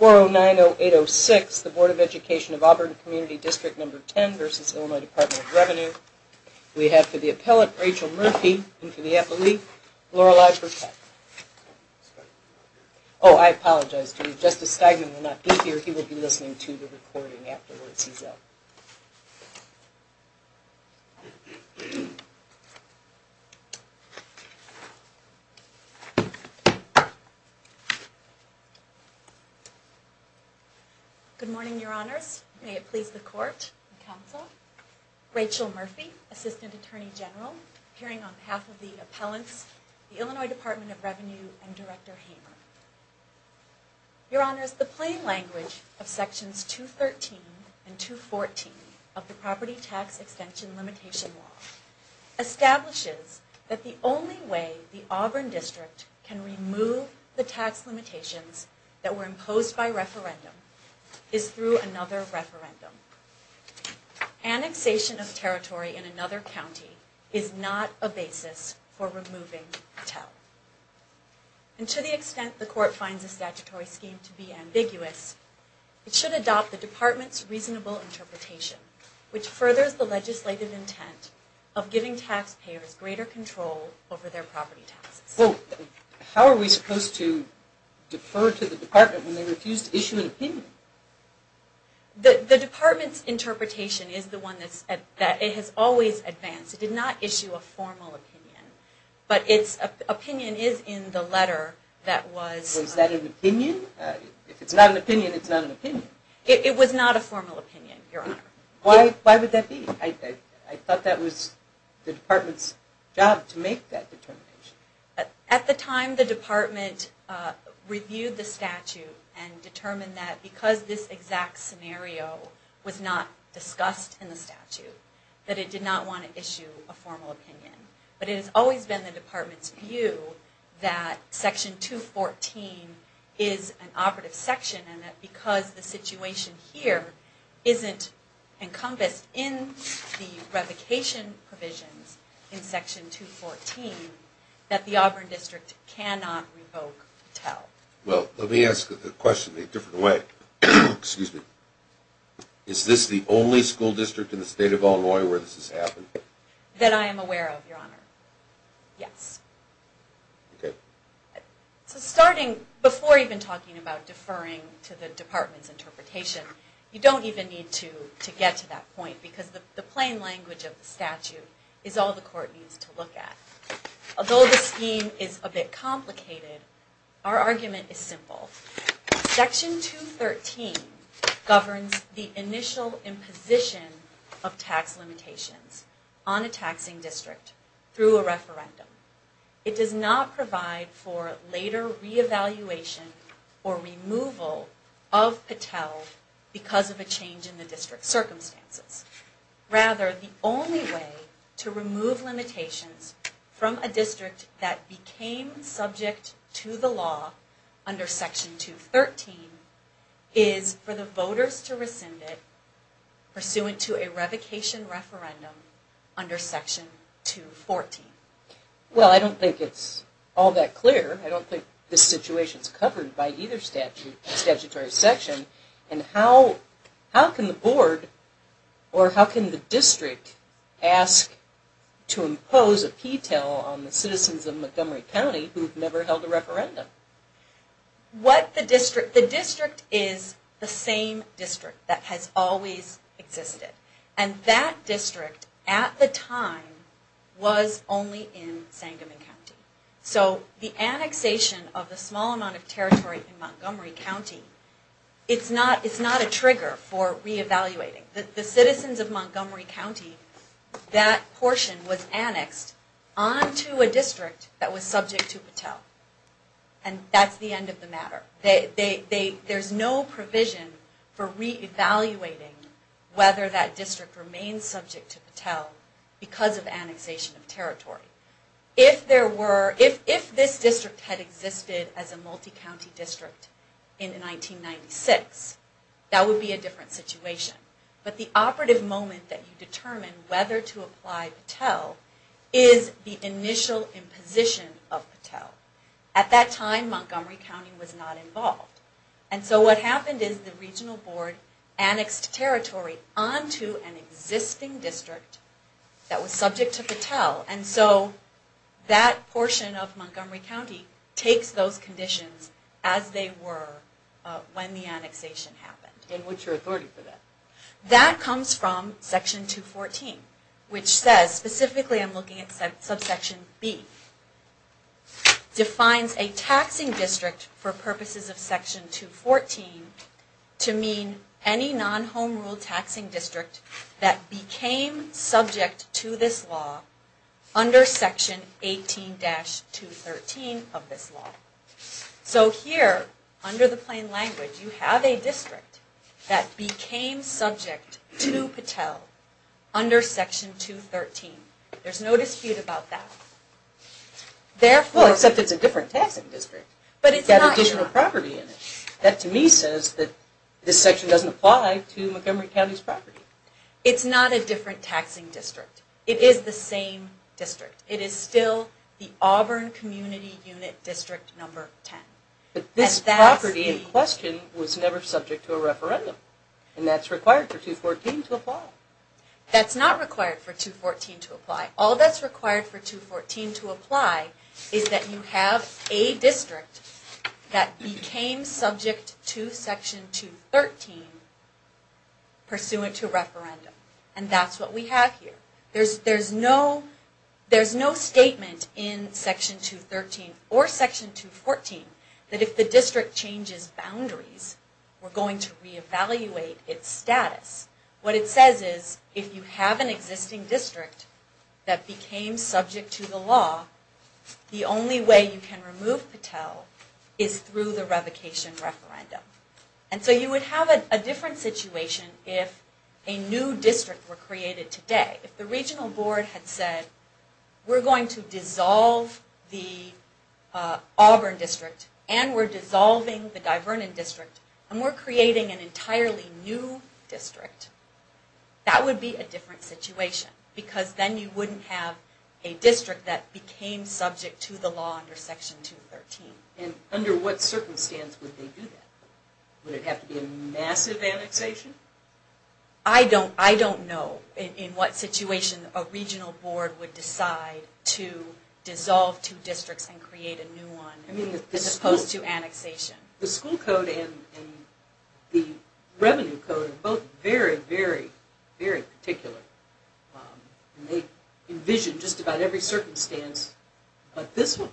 We have for the appellate, Rachel Murphy, and for the appellee, Lorelei Burkett. Oh, I apologize to you. Justice Steigman will not be here. He will be listening to the recording afterwards. He's out. Good morning, Your Honors. May it please the Court and Counsel. Rachel Murphy, Assistant Attorney General, appearing on behalf of the appellants, the Illinois Department of Revenue, and Director Hamer. Your Honors, the plain language of Sections 213 and 214 of the Property Tax Extension Limitation Law establishes that the only way the Auburn District can remove the tax limitations that were imposed by referendum is through another referendum. Annexation of territory in another county is not a basis for removing TEL. And to the extent the Court finds the statutory scheme to be ambiguous, it should adopt the Department's reasonable interpretation, which furthers the legislative intent of giving taxpayers greater control over their property taxes. Well, how are we supposed to defer to the Department when they refuse to issue an opinion? The Department's interpretation is the one that has always advanced. It did not issue a formal opinion. But its opinion is in the letter that was... Was that an opinion? If it's not an opinion, it's not an opinion. It was not a formal opinion, Your Honor. Why would that be? I thought that was the Department's job to make that determination. At the time, the Department reviewed the statute and determined that because this exact scenario was not discussed in the statute, that it did not want to issue a formal opinion. But it has always been the Department's view that Section 214 is an operative section and that because the situation here isn't encompassed in the revocation provisions in Section 214, that the Auburn District cannot revoke TEL. Well, let me ask the question a different way. Excuse me. Is this the only school district in the state of Illinois where this has happened? That I am aware of, Your Honor. Yes. Okay. So starting, before even talking about deferring to the Department's interpretation, you don't even need to get to that point because the plain language of the statute is all the Court needs to look at. Although the scheme is a bit complicated, our argument is simple. Section 213 governs the initial imposition of tax limitations on a taxing district through a referendum. It does not provide for later reevaluation or removal of TEL because of a change in the district circumstances. Rather, the only way to remove limitations from a district that became subject to the law under Section 213 is for the voters to rescind it pursuant to a revocation referendum under Section 214. Well, I don't think it's all that clear. I don't think this situation is covered by either statutory section. And how can the Board or how can the district ask to impose a P-TEL on the citizens of Montgomery County who have never held a referendum? The district is the same district that has always existed. And that district at the time was only in Sangamon County. So the annexation of the small amount of territory in Montgomery County, it's not a trigger for reevaluating. The citizens of Montgomery County, that portion was annexed onto a district that was subject to P-TEL. And that's the end of the matter. There's no provision for reevaluating whether that district remains subject to P-TEL because of annexation of territory. If this district had existed as a multi-county district in 1996, that would be a different situation. But the operative moment that you determine whether to apply P-TEL is the initial imposition of P-TEL. At that time Montgomery County was not involved. And so what happened is the regional board annexed territory onto an existing district that was subject to P-TEL. And so that portion of Montgomery County takes those conditions as they were when the annexation happened. And what's your authority for that? That comes from section 214, which says, specifically I'm looking at subsection B, defines a taxing district for purposes of section 214 to mean any non-home rule taxing district that became subject to this law under section 18-213 of this law. So here, under the plain language, you have a district that became subject to P-TEL under section 213. There's no dispute about that. Well, except it's a different taxing district. It's got additional property in it. That to me says that this section doesn't apply to Montgomery County's property. It's not a different taxing district. It is the same district. It is still the Auburn Community Unit District Number 10. But this property in question was never subject to a referendum. And that's required for 214 to apply. That's not required for 214 to apply. All that's required for 214 to apply is that you have a district that became subject to section 213 pursuant to a referendum. And that's what we have here. There's no statement in section 213 or section 214 that if the district changes boundaries, we're going to re-evaluate its status. What it says is, if you have an existing district that became subject to the law, the only way you can remove P-TEL is through the revocation referendum. And so you would have a different situation if a new district were created today. If the regional board had said, we're going to dissolve the Auburn district, and we're dissolving the Divernon district, and we're creating an entirely new district, that would be a different situation. Because then you wouldn't have a district that became subject to the law under section 213. And under what circumstance would they do that? Would it have to be a massive annexation? I don't know in what situation a regional board would decide to dissolve two districts and create a new one, as opposed to annexation. The school code and the revenue code are both very, very, very particular. They envision just about every circumstance but this one.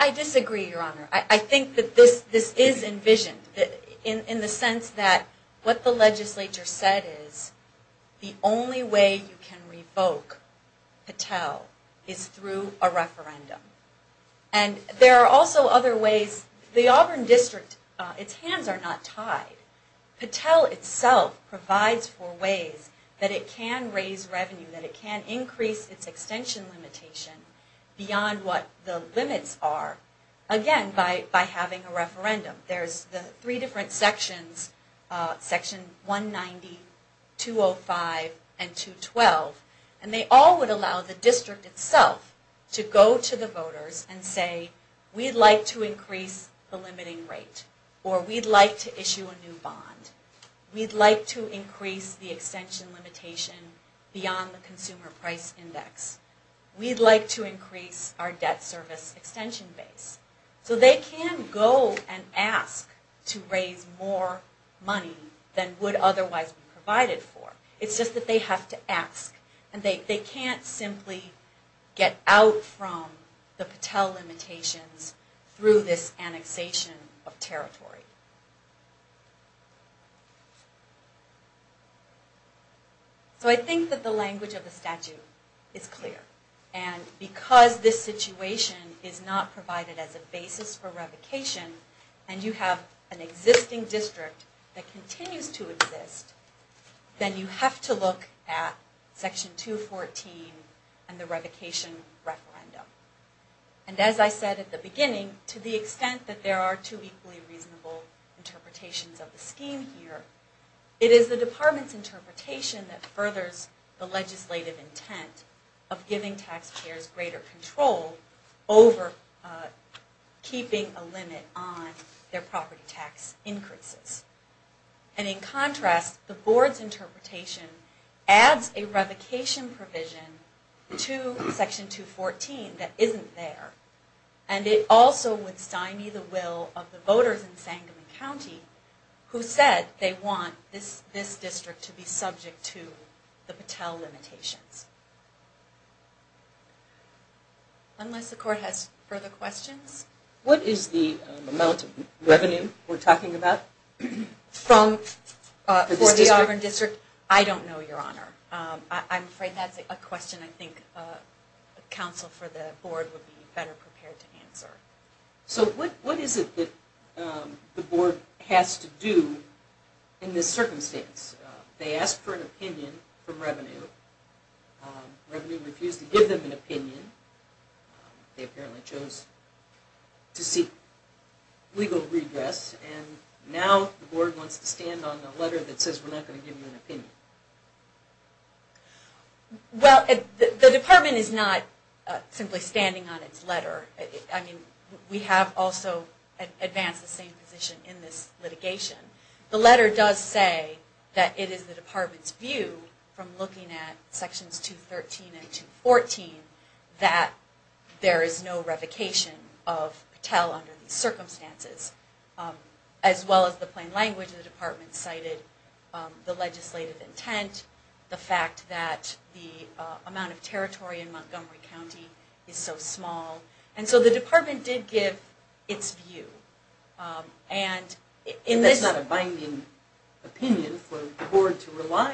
I disagree, Your Honor. I think that this is envisioned in the sense that what the legislature said is, the only way you can revoke P-TEL is through a referendum. And there are also other ways. The Auburn district, its hands are not tied. P-TEL itself provides for ways that it can raise revenue, that it can increase its extension limitation beyond what the limits are. Again, by having a referendum. There's the three different sections, section 190, 205, and 212. And they all would allow the district itself to go to the voters and say, we'd like to increase the limiting rate, or we'd like to issue a new bond. We'd like to increase the extension limitation beyond the consumer price index. We'd like to increase our debt service extension base. So they can go and ask to raise more money than would otherwise be provided for. It's just that they have to ask. And they can't simply get out from the P-TEL limitations through this annexation of territory. So I think that the language of the statute is clear. And because this situation is not provided as a basis for revocation, and you have an existing district that continues to exist, then you have to look at section 214 and the revocation referendum. And as I said at the beginning, to the extent that there are two equally reasonable options, two equal interpretations of the scheme here, it is the department's interpretation that furthers the legislative intent of giving taxpayers greater control over keeping a limit on their property tax increases. And in contrast, the board's interpretation adds a revocation provision to section 214 that isn't there. And it also would stymie the will of the voters in Sangamon County who said they want this district to be subject to the P-TEL limitations. Unless the court has further questions? What is the amount of revenue we're talking about for this district? I don't know, Your Honor. I'm afraid that's a question I think counsel for the board would be better prepared to answer. So what is it that the board has to do in this circumstance? They asked for an opinion from revenue. Revenue refused to give them an opinion. They apparently chose to seek legal regress. And now the board wants to stand on the letter that says we're not going to give you an opinion. Well, the department is not simply standing on its letter. I mean, we have also advanced the same position in this litigation. The letter does say that it is the department's view from looking at sections 213 and 214 that there is no revocation of P-TEL under these circumstances. As well as the plain language, the department cited the legislative intent, the fact that the amount of territory in Montgomery County is so small. And so the department did give its view. That's not a binding opinion for the board to rely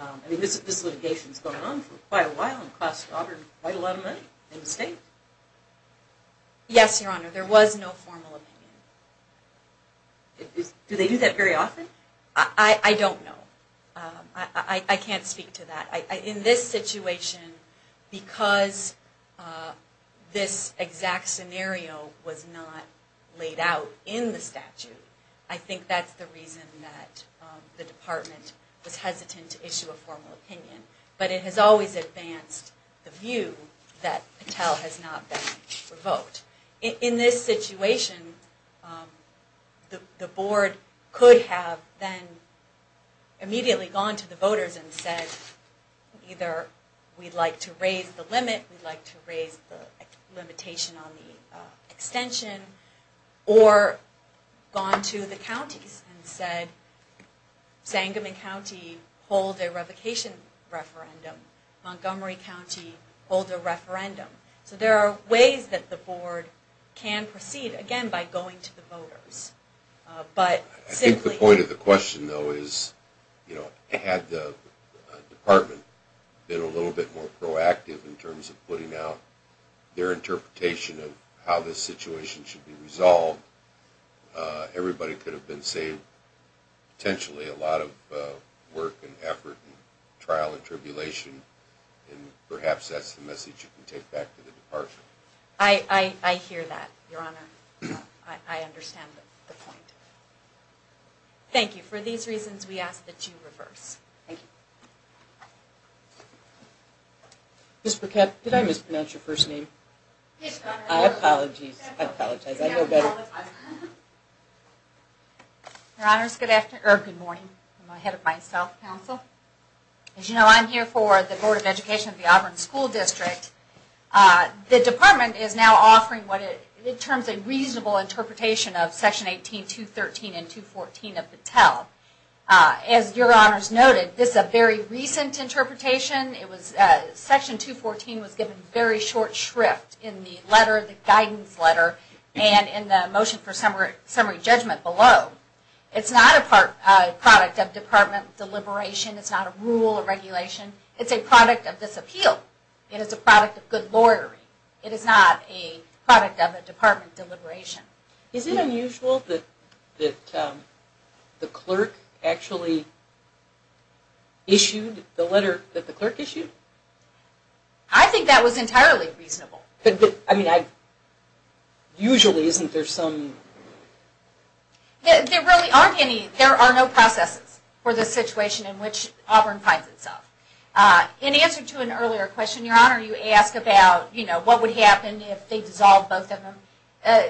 on. I mean, this litigation has been going on for quite a while and cost Auburn quite a lot of money in the state. Yes, Your Honor. There was no formal opinion. Do they do that very often? I don't know. I can't speak to that. In this situation, because this exact scenario was not laid out in the statute, I think that's the reason that the department was hesitant to issue a formal opinion. But it has always advanced the view that P-TEL has not been revoked. In this situation, the board could have then immediately gone to the voters and said, either we'd like to raise the limit, we'd like to raise the limitation on the extension, or gone to the counties and said, Sangamon County hold a revocation referendum, Montgomery County hold a referendum. So there are ways that the board can proceed, again, by going to the voters. I think the point of the question, though, is, you know, had the department been a little bit more proactive in terms of putting out their interpretation of how this situation should be resolved, everybody could have been saved. Potentially a lot of work and effort and trial and tribulation, and perhaps that's the message you can take back to the department. I hear that, Your Honor. I understand the point. Thank you. For these reasons, we ask that you reverse. Thank you. Ms. Burkett, did I mispronounce your first name? Yes, Your Honor. I apologize. I know better. Your Honors, good morning. I'm ahead of myself, counsel. As you know, I'm here for the Board of Education of the Auburn School District. The department is now offering what it terms a reasonable interpretation of Section 18, 213, and 214 of P-TEL. As Your Honors noted, this is a very recent interpretation. Section 214 was given very short shrift in the letter, the guidance letter, and in the motion for summary judgment below. It's not a product of department deliberation. It's not a rule or regulation. It's a product of disappeal. It is a product of good lawyering. It is not a product of a department deliberation. Is it unusual that the clerk actually issued the letter that the clerk issued? I think that was entirely reasonable. But, I mean, usually isn't there some... There really aren't any. There are no processes for the situation in which Auburn finds itself. In answer to an earlier question, Your Honor, you asked about, you know, what would happen if they dissolved both of them.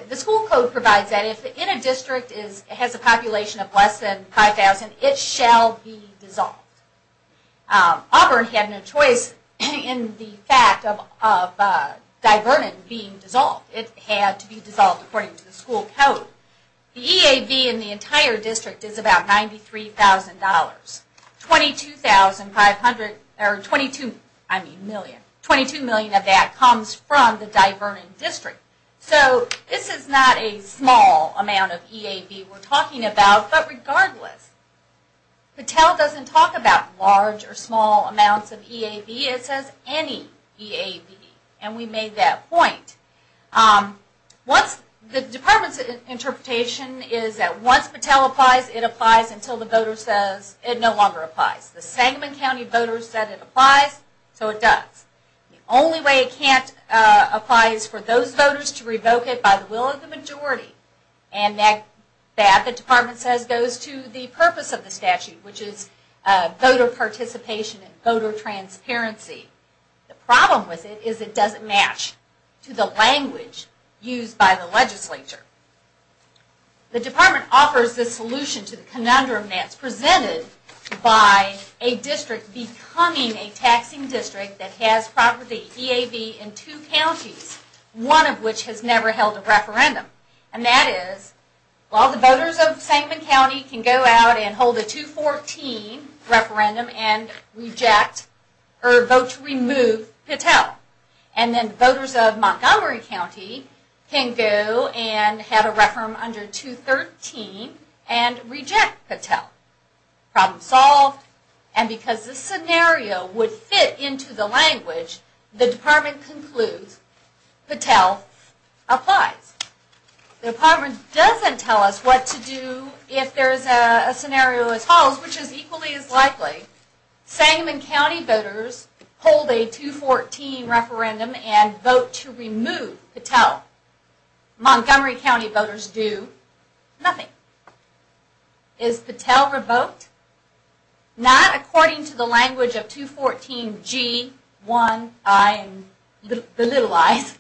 The school code provides that if in a district it has a population of less than 5,000, it shall be dissolved. Auburn had no choice in the fact of Divernon being dissolved. It had to be dissolved according to the school code. The EAB in the entire district is about $93,000. 22,500, or 22,000,000, 22,000,000 of that comes from the Divernon district. So this is not a small amount of EAB we're talking about. But regardless, Patel doesn't talk about large or small amounts of EAB. It says any EAB. And we made that point. The department's interpretation is that once Patel applies, it applies until the voter says it no longer applies. The Sangamon County voters said it applies, so it does. The only way it can't apply is for those voters to revoke it by the will of the majority. And that, the department says, goes to the purpose of the statute, which is voter participation and voter transparency. The problem with it is it doesn't match to the language used by the legislature. The department offers this solution to the conundrum that's presented by a district becoming a taxing district that has property EAB in two counties, one of which has never held a referendum. And that is, well, the voters of Sangamon County can go out and hold a 214 referendum and reject, or vote to remove Patel. And then voters of Montgomery County can go and have a referendum under 213 and reject Patel. Problem solved. And because this scenario would fit into the language, the department concludes Patel applies. The department doesn't tell us what to do if there's a scenario as follows, which is equally as likely. Sangamon County voters hold a 214 referendum and vote to remove Patel. Montgomery County voters do nothing. Is Patel revoked? Not according to the language of 214G1I, the little i's,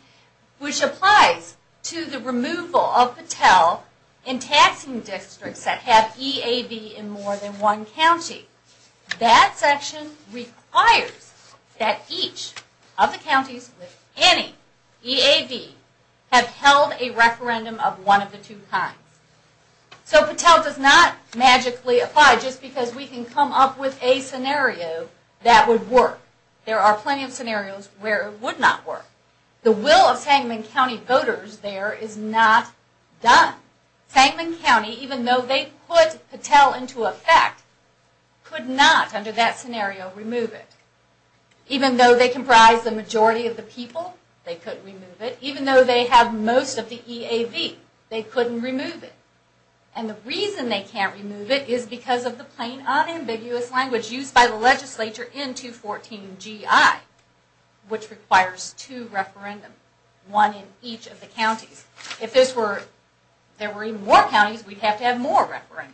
which applies to the removal of Patel in taxing districts that have EAB in more than one county. That section requires that each of the counties with any EAB have held a referendum of one of the two kinds. So Patel does not magically apply just because we can come up with a scenario that would work. There are plenty of scenarios where it would not work. The will of Sangamon County voters there is not done. Sangamon County, even though they put Patel into effect, could not, under that scenario, remove it. Even though they comprise the majority of the people, they couldn't remove it. Even though they have most of the EAB, they couldn't remove it. And the reason they can't remove it is because of the plain unambiguous language used by the legislature in 214G1I, which requires two referendums, one in each of the counties. If there were even more counties, we'd have to have more referendums.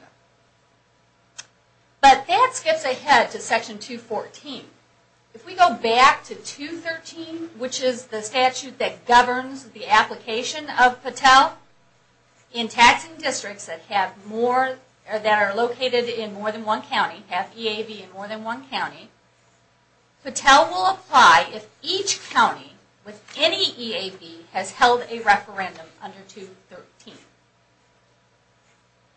But that skips ahead to section 214. If we go back to 213, which is the statute that governs the application of Patel in taxing districts that are located in more than one county, have EAB in more than one county, Patel will apply if each county with any EAB has held a referendum under 213.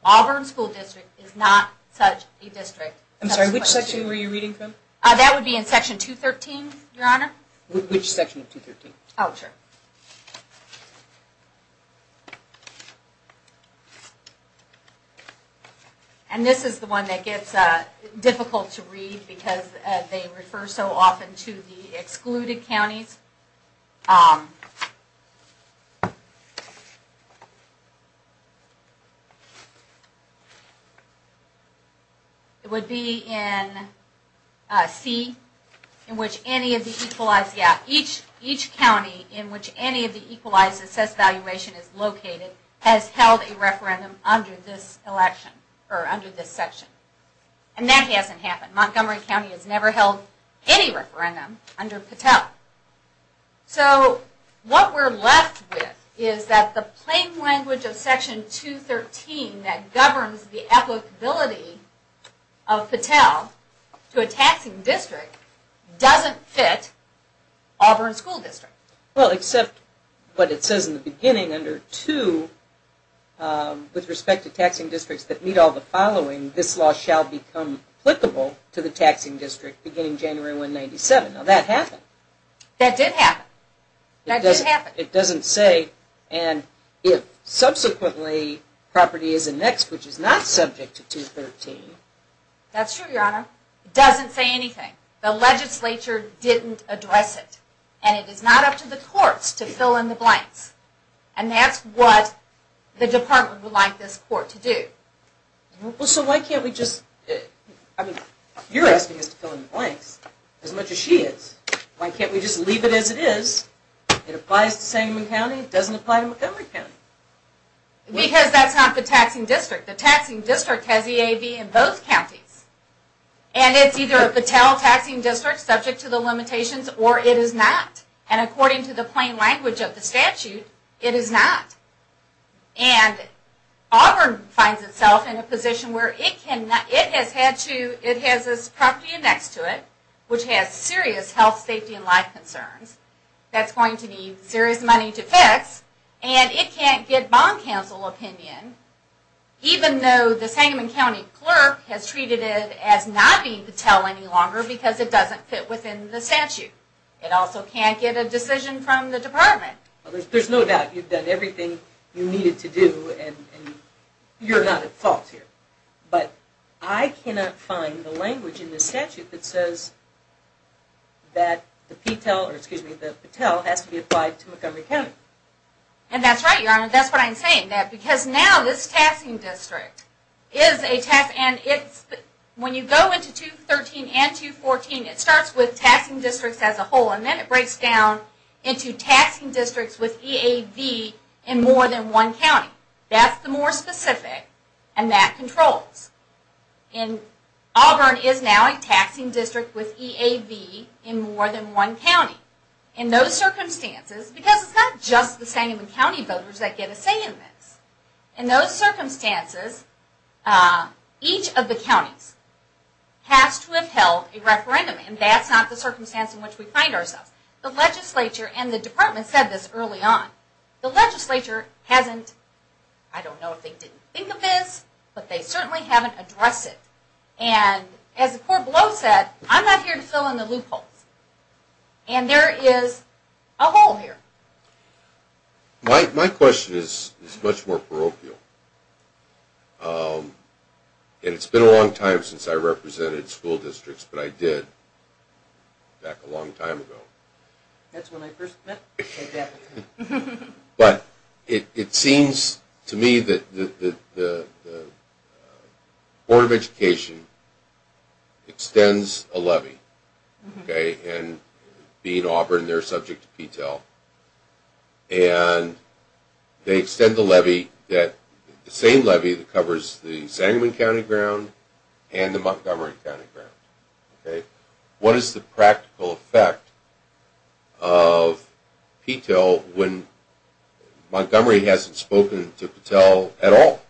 Auburn School District is not such a district. I'm sorry, which section were you reading from? That would be in section 213, Your Honor. Which section of 213? Oh, sure. Okay. And this is the one that gets difficult to read because they refer so often to the excluded counties. It would be in C, in which any of the equalized, yeah, each county in which any of the equalized assessed valuation is located has held a referendum under this election, or under this section. And that hasn't happened. Montgomery County has never held any referendum under Patel. So, what we're left with is that the plain language of section 213 that governs the applicability of Patel to a taxing district doesn't fit Auburn School District. Well, except what it says in the beginning under 2, with respect to taxing districts that meet all the following, this law shall become applicable to the taxing district beginning January 1, 1997. Now, that happened. That did happen. It doesn't say, and if subsequently property is annexed, which is not subject to 213, That's true, Your Honor. It doesn't say anything. The legislature didn't address it. And it is not up to the courts to fill in the blanks. And that's what the department would like this court to do. Well, so why can't we just, I mean, you're asking us to fill in the blanks. As much as she is. Why can't we just leave it as it is? It applies to Sangamon County. It doesn't apply to Montgomery County. Because that's not the taxing district. The taxing district has EAV in both counties. And it's either a Battelle taxing district, subject to the limitations, or it is not. And according to the plain language of the statute, it is not. And Auburn finds itself in a position where it has this property annexed to it, which has serious health, safety, and life concerns, that's going to need serious money to fix, and it can't get bond counsel opinion, even though the Sangamon County clerk has treated it as not being Battelle any longer because it doesn't fit within the statute. It also can't get a decision from the department. There's no doubt you've done everything you needed to do, and you're not at fault here. But I cannot find the language in the statute that says that the Battelle has to be applied to Montgomery County. And that's right, Your Honor, that's what I'm saying. That because now this taxing district is a tax, and it's, when you go into 213 and 214, it starts with taxing districts as a whole, and then it breaks down into taxing districts with EAV in more than one county. That's the more specific, and that controls. And Auburn is now a taxing district with EAV in more than one county. In those circumstances, because it's not just the Sangamon County voters that get a say in this, in those circumstances, each of the counties has to have held a referendum. And that's not the circumstance in which we find ourselves. The legislature and the department said this early on. The legislature hasn't, I don't know if they didn't think of this, but they certainly haven't addressed it. And as the court below said, I'm not here to fill in the loopholes. And there is a hole here. My question is much more parochial. And it's been a long time since I represented school districts, but I did back a long time ago. That's when I first met? I bet. But it seems to me that the Board of Education extends a levy, and being Auburn, they're subject to PTEL. And they extend the levy, the same levy that covers the Sangamon County ground and the Montgomery County ground. What is the practical effect of PTEL when Montgomery hasn't spoken to PTEL at all?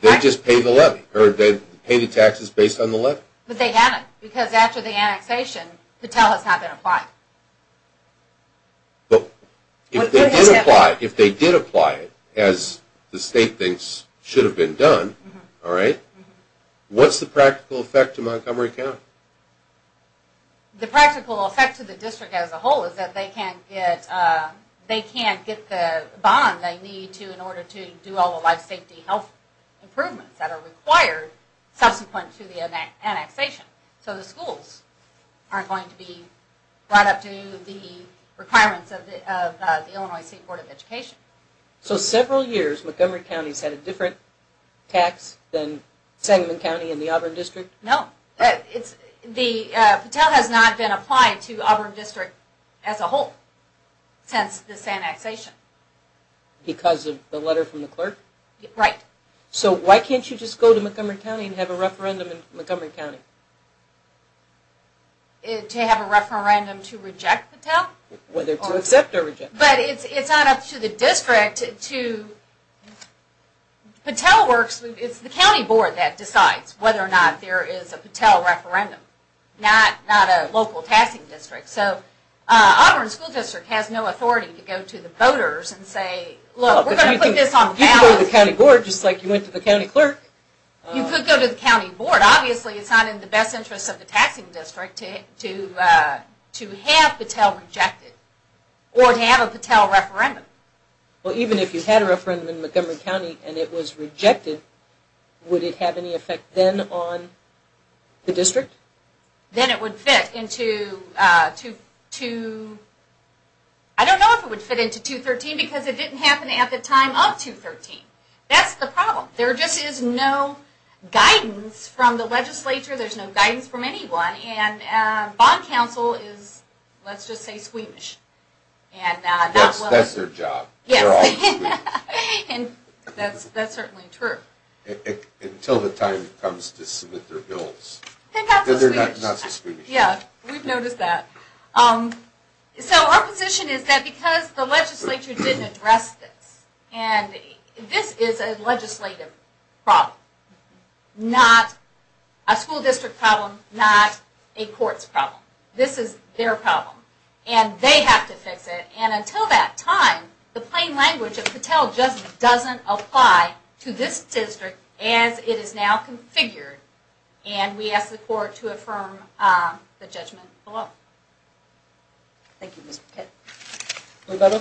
They just pay the levy, or they pay the taxes based on the levy. But they haven't, because after the annexation, PTEL has not been applied. But if they did apply it, as the state thinks should have been done, what's the practical effect to Montgomery County? The practical effect to the district as a whole is that they can't get the bond they need in order to do all the life safety health improvements that are required subsequent to the annexation. So the schools aren't going to be brought up to the requirements of the Illinois State Board of Education. So several years, Montgomery County has had a different tax than Sangamon County and the Auburn District? No. PTEL has not been applied to Auburn District as a whole since this annexation. Because of the letter from the clerk? Right. So why can't you just go to Montgomery County and have a referendum in Montgomery County? To have a referendum to reject PTEL? Whether to accept or reject. But it's not up to the district to... PTEL works, it's the county board that decides whether or not there is a PTEL referendum, not a local taxing district. So Auburn School District has no authority to go to the voters and say, we're going to put this on the ballot. You could go to the county board just like you went to the county clerk. You could go to the county board. Obviously it's not in the best interest of the taxing district to have PTEL rejected. Or to have a PTEL referendum. Well even if you had a referendum in Montgomery County and it was rejected, would it have any effect then on the district? Then it would fit into, I don't know if it would fit into 213 because it didn't happen at the time of 213. That's the problem. There just is no guidance from the legislature. There's no guidance from anyone. And bond counsel is, let's just say, squeamish. Yes, that's their job. That's certainly true. Until the time comes to submit their bills. They're not so squeamish. We've noticed that. So our position is that because the legislature didn't address this. And this is a legislative problem. Not a school district problem. Not a court's problem. This is their problem. And they have to fix it. And until that time, the plain language of PTEL just doesn't apply to this district as it is now configured. And we ask the court to affirm the judgment below. Thank you, Ms. Burkett.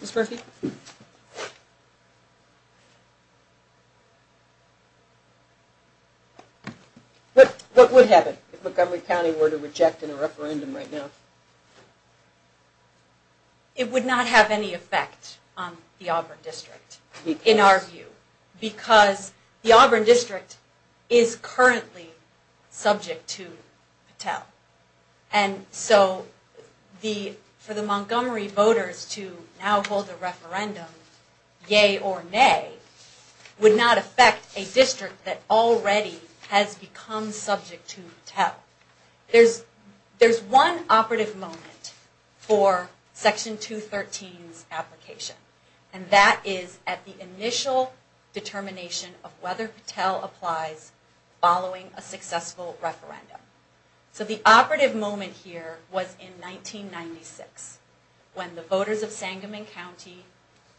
Ms. Murphy? What would happen if Montgomery County were to reject in a referendum right now? It would not have any effect on the Auburn district. In our view. Because the Auburn district is currently subject to PTEL. And so for the Montgomery voters to now hold a referendum, yea or nay, would not affect a district that already has become subject to PTEL. There's one operative moment for Section 213's application. And that is at the initial determination of whether PTEL applies following a successful referendum. So the operative moment here was in 1996. When the voters of Sangamon County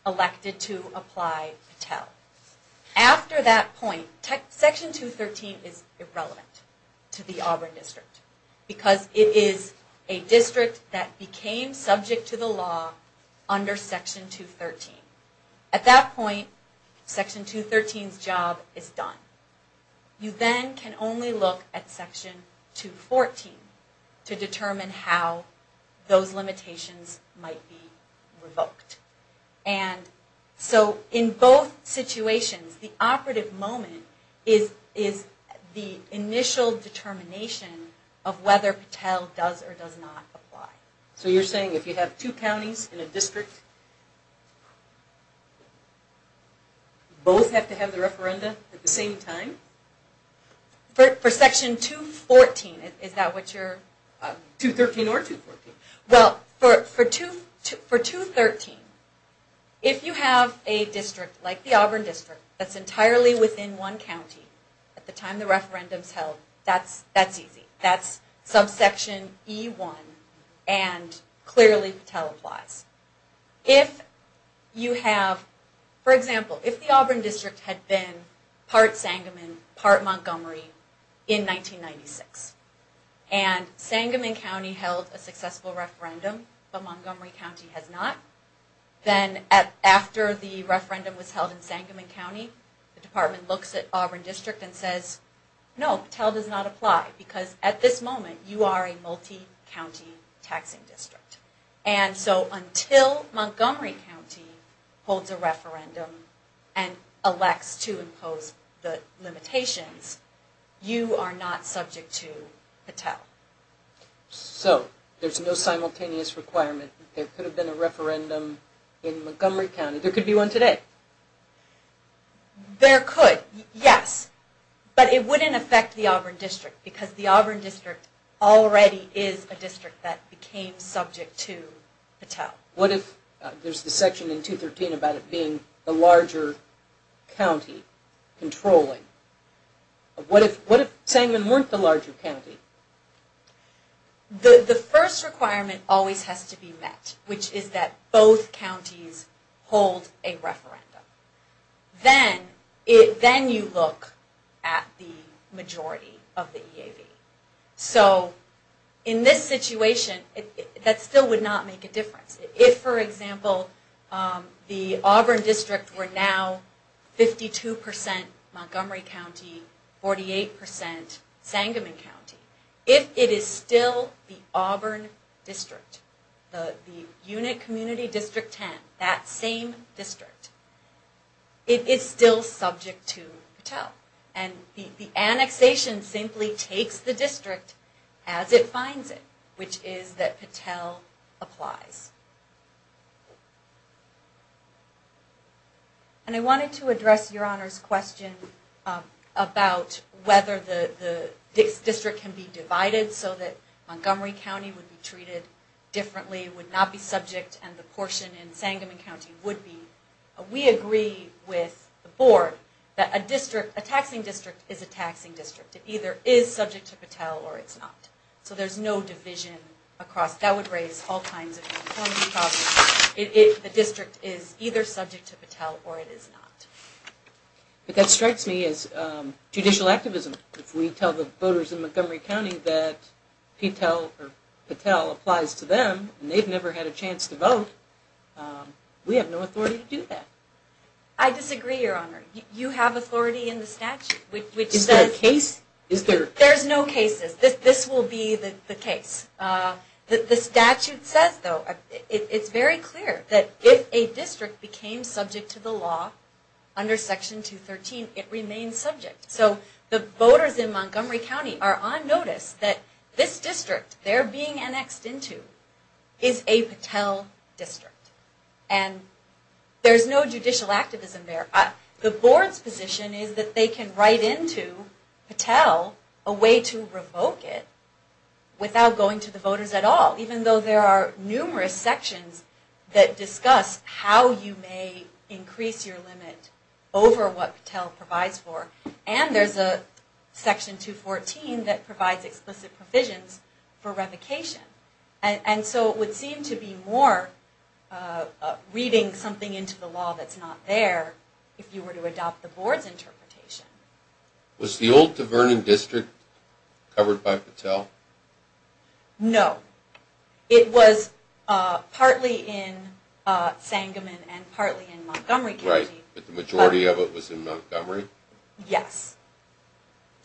elected to apply PTEL. After that point, Section 213 is irrelevant to the Auburn district. Because it is a district that became subject to the law under Section 213. At that point, Section 213's job is done. You then can only look at Section 214 to determine how those limitations might be revoked. And so in both situations, the operative moment is the initial determination of whether PTEL does or does not apply. So you're saying if you have two counties in a district, both have to have the referendum at the same time? For Section 214, is that what you're... 213 or 214. Well, for 213, if you have a district like the Auburn district, that's entirely within one county at the time the referendum is held, that's easy. That's subsection E1 and clearly PTEL applies. If you have, for example, if the Auburn district had been part Sangamon, part Montgomery in 1996, and Sangamon County held a successful referendum, but Montgomery County has not, then after the referendum was held in Sangamon County, the department looks at Auburn district and says, no, PTEL does not apply because at this moment you are a multi-county taxing district. And so until Montgomery County holds a referendum and elects to impose the limitations, you are not subject to PTEL. So there's no simultaneous requirement. There could have been a referendum in Montgomery County. There could be one today. There could, yes. But it wouldn't affect the Auburn district because the Auburn district already is a district that became subject to PTEL. What if, there's the section in 213 about it being the larger county controlling. What if Sangamon weren't the larger county? The first requirement always has to be met, which is that both counties hold a referendum. Then you look at the majority of the EAV. So in this situation, that still would not make a difference. If, for example, the Auburn district were now 52% Montgomery County, 48% Sangamon County, if it is still the Auburn district, the unit community district 10, that same district, it is still subject to PTEL. And the annexation simply takes the district as it finds it, which is that PTEL applies. And I wanted to address Your Honor's question about whether the district can be divided so that Montgomery County would be treated differently, would not be subject, and the portion in Sangamon County would be. We agree with the board that a district, a taxing district, is a taxing district. It either is subject to PTEL or it's not. So there's no division across, that would raise all kinds of conformity problems if the district is either subject to PTEL or it is not. But that strikes me as judicial activism. If we tell the voters in Montgomery County that PTEL applies to them, and they've never had a chance to vote, we have no authority to do that. I disagree, Your Honor. You have authority in the statute. Is there a case? There's no cases. This will be the case. The statute says, though, it's very clear that if a district became subject to the law under Section 213, it remains subject. So the voters in Montgomery County are on notice that this district they're being annexed into is a PTEL district. And there's no judicial activism there. The board's position is that they can write into PTEL a way to revoke it without going to the voters at all, even though there are numerous sections that discuss how you may increase your limit over what PTEL provides for. And there's a Section 214 that provides explicit provisions for revocation. And so it would seem to be more reading something into the law that's not there if you were to adopt the board's interpretation. Was the old De Vernon district covered by PTEL? No. It was partly in Sangamon and partly in Montgomery County. But the majority of it was in Montgomery? Yes.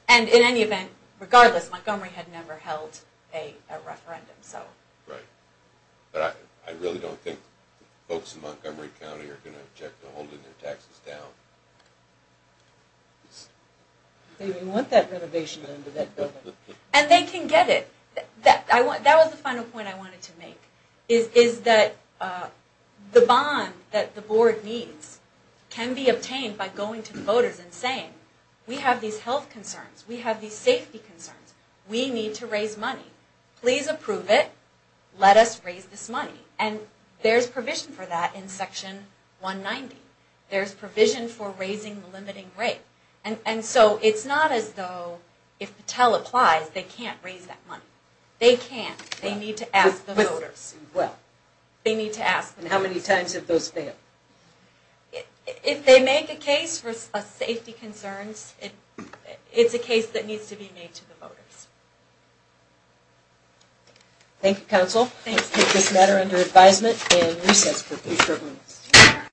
And in any event, regardless, Montgomery had never held a referendum. Right. But I really don't think folks in Montgomery County are going to object to holding their taxes down. They don't even want that renovation under that building. And they can get it. That was the final point I wanted to make, is that the bond that the board needs can be obtained by going to the voters and saying, we have these health concerns. We have these safety concerns. We need to raise money. Please approve it. Let us raise this money. And there's provision for that in Section 190. There's provision for raising the limiting rate. And so it's not as though if PTEL applies, they can't raise that money. They can't. They need to ask the voters. And how many times have those failed? If they make a case for safety concerns, it's a case that needs to be made to the voters. Thank you, Counsel. Thank you. I take this matter under advisement and recess for three short minutes.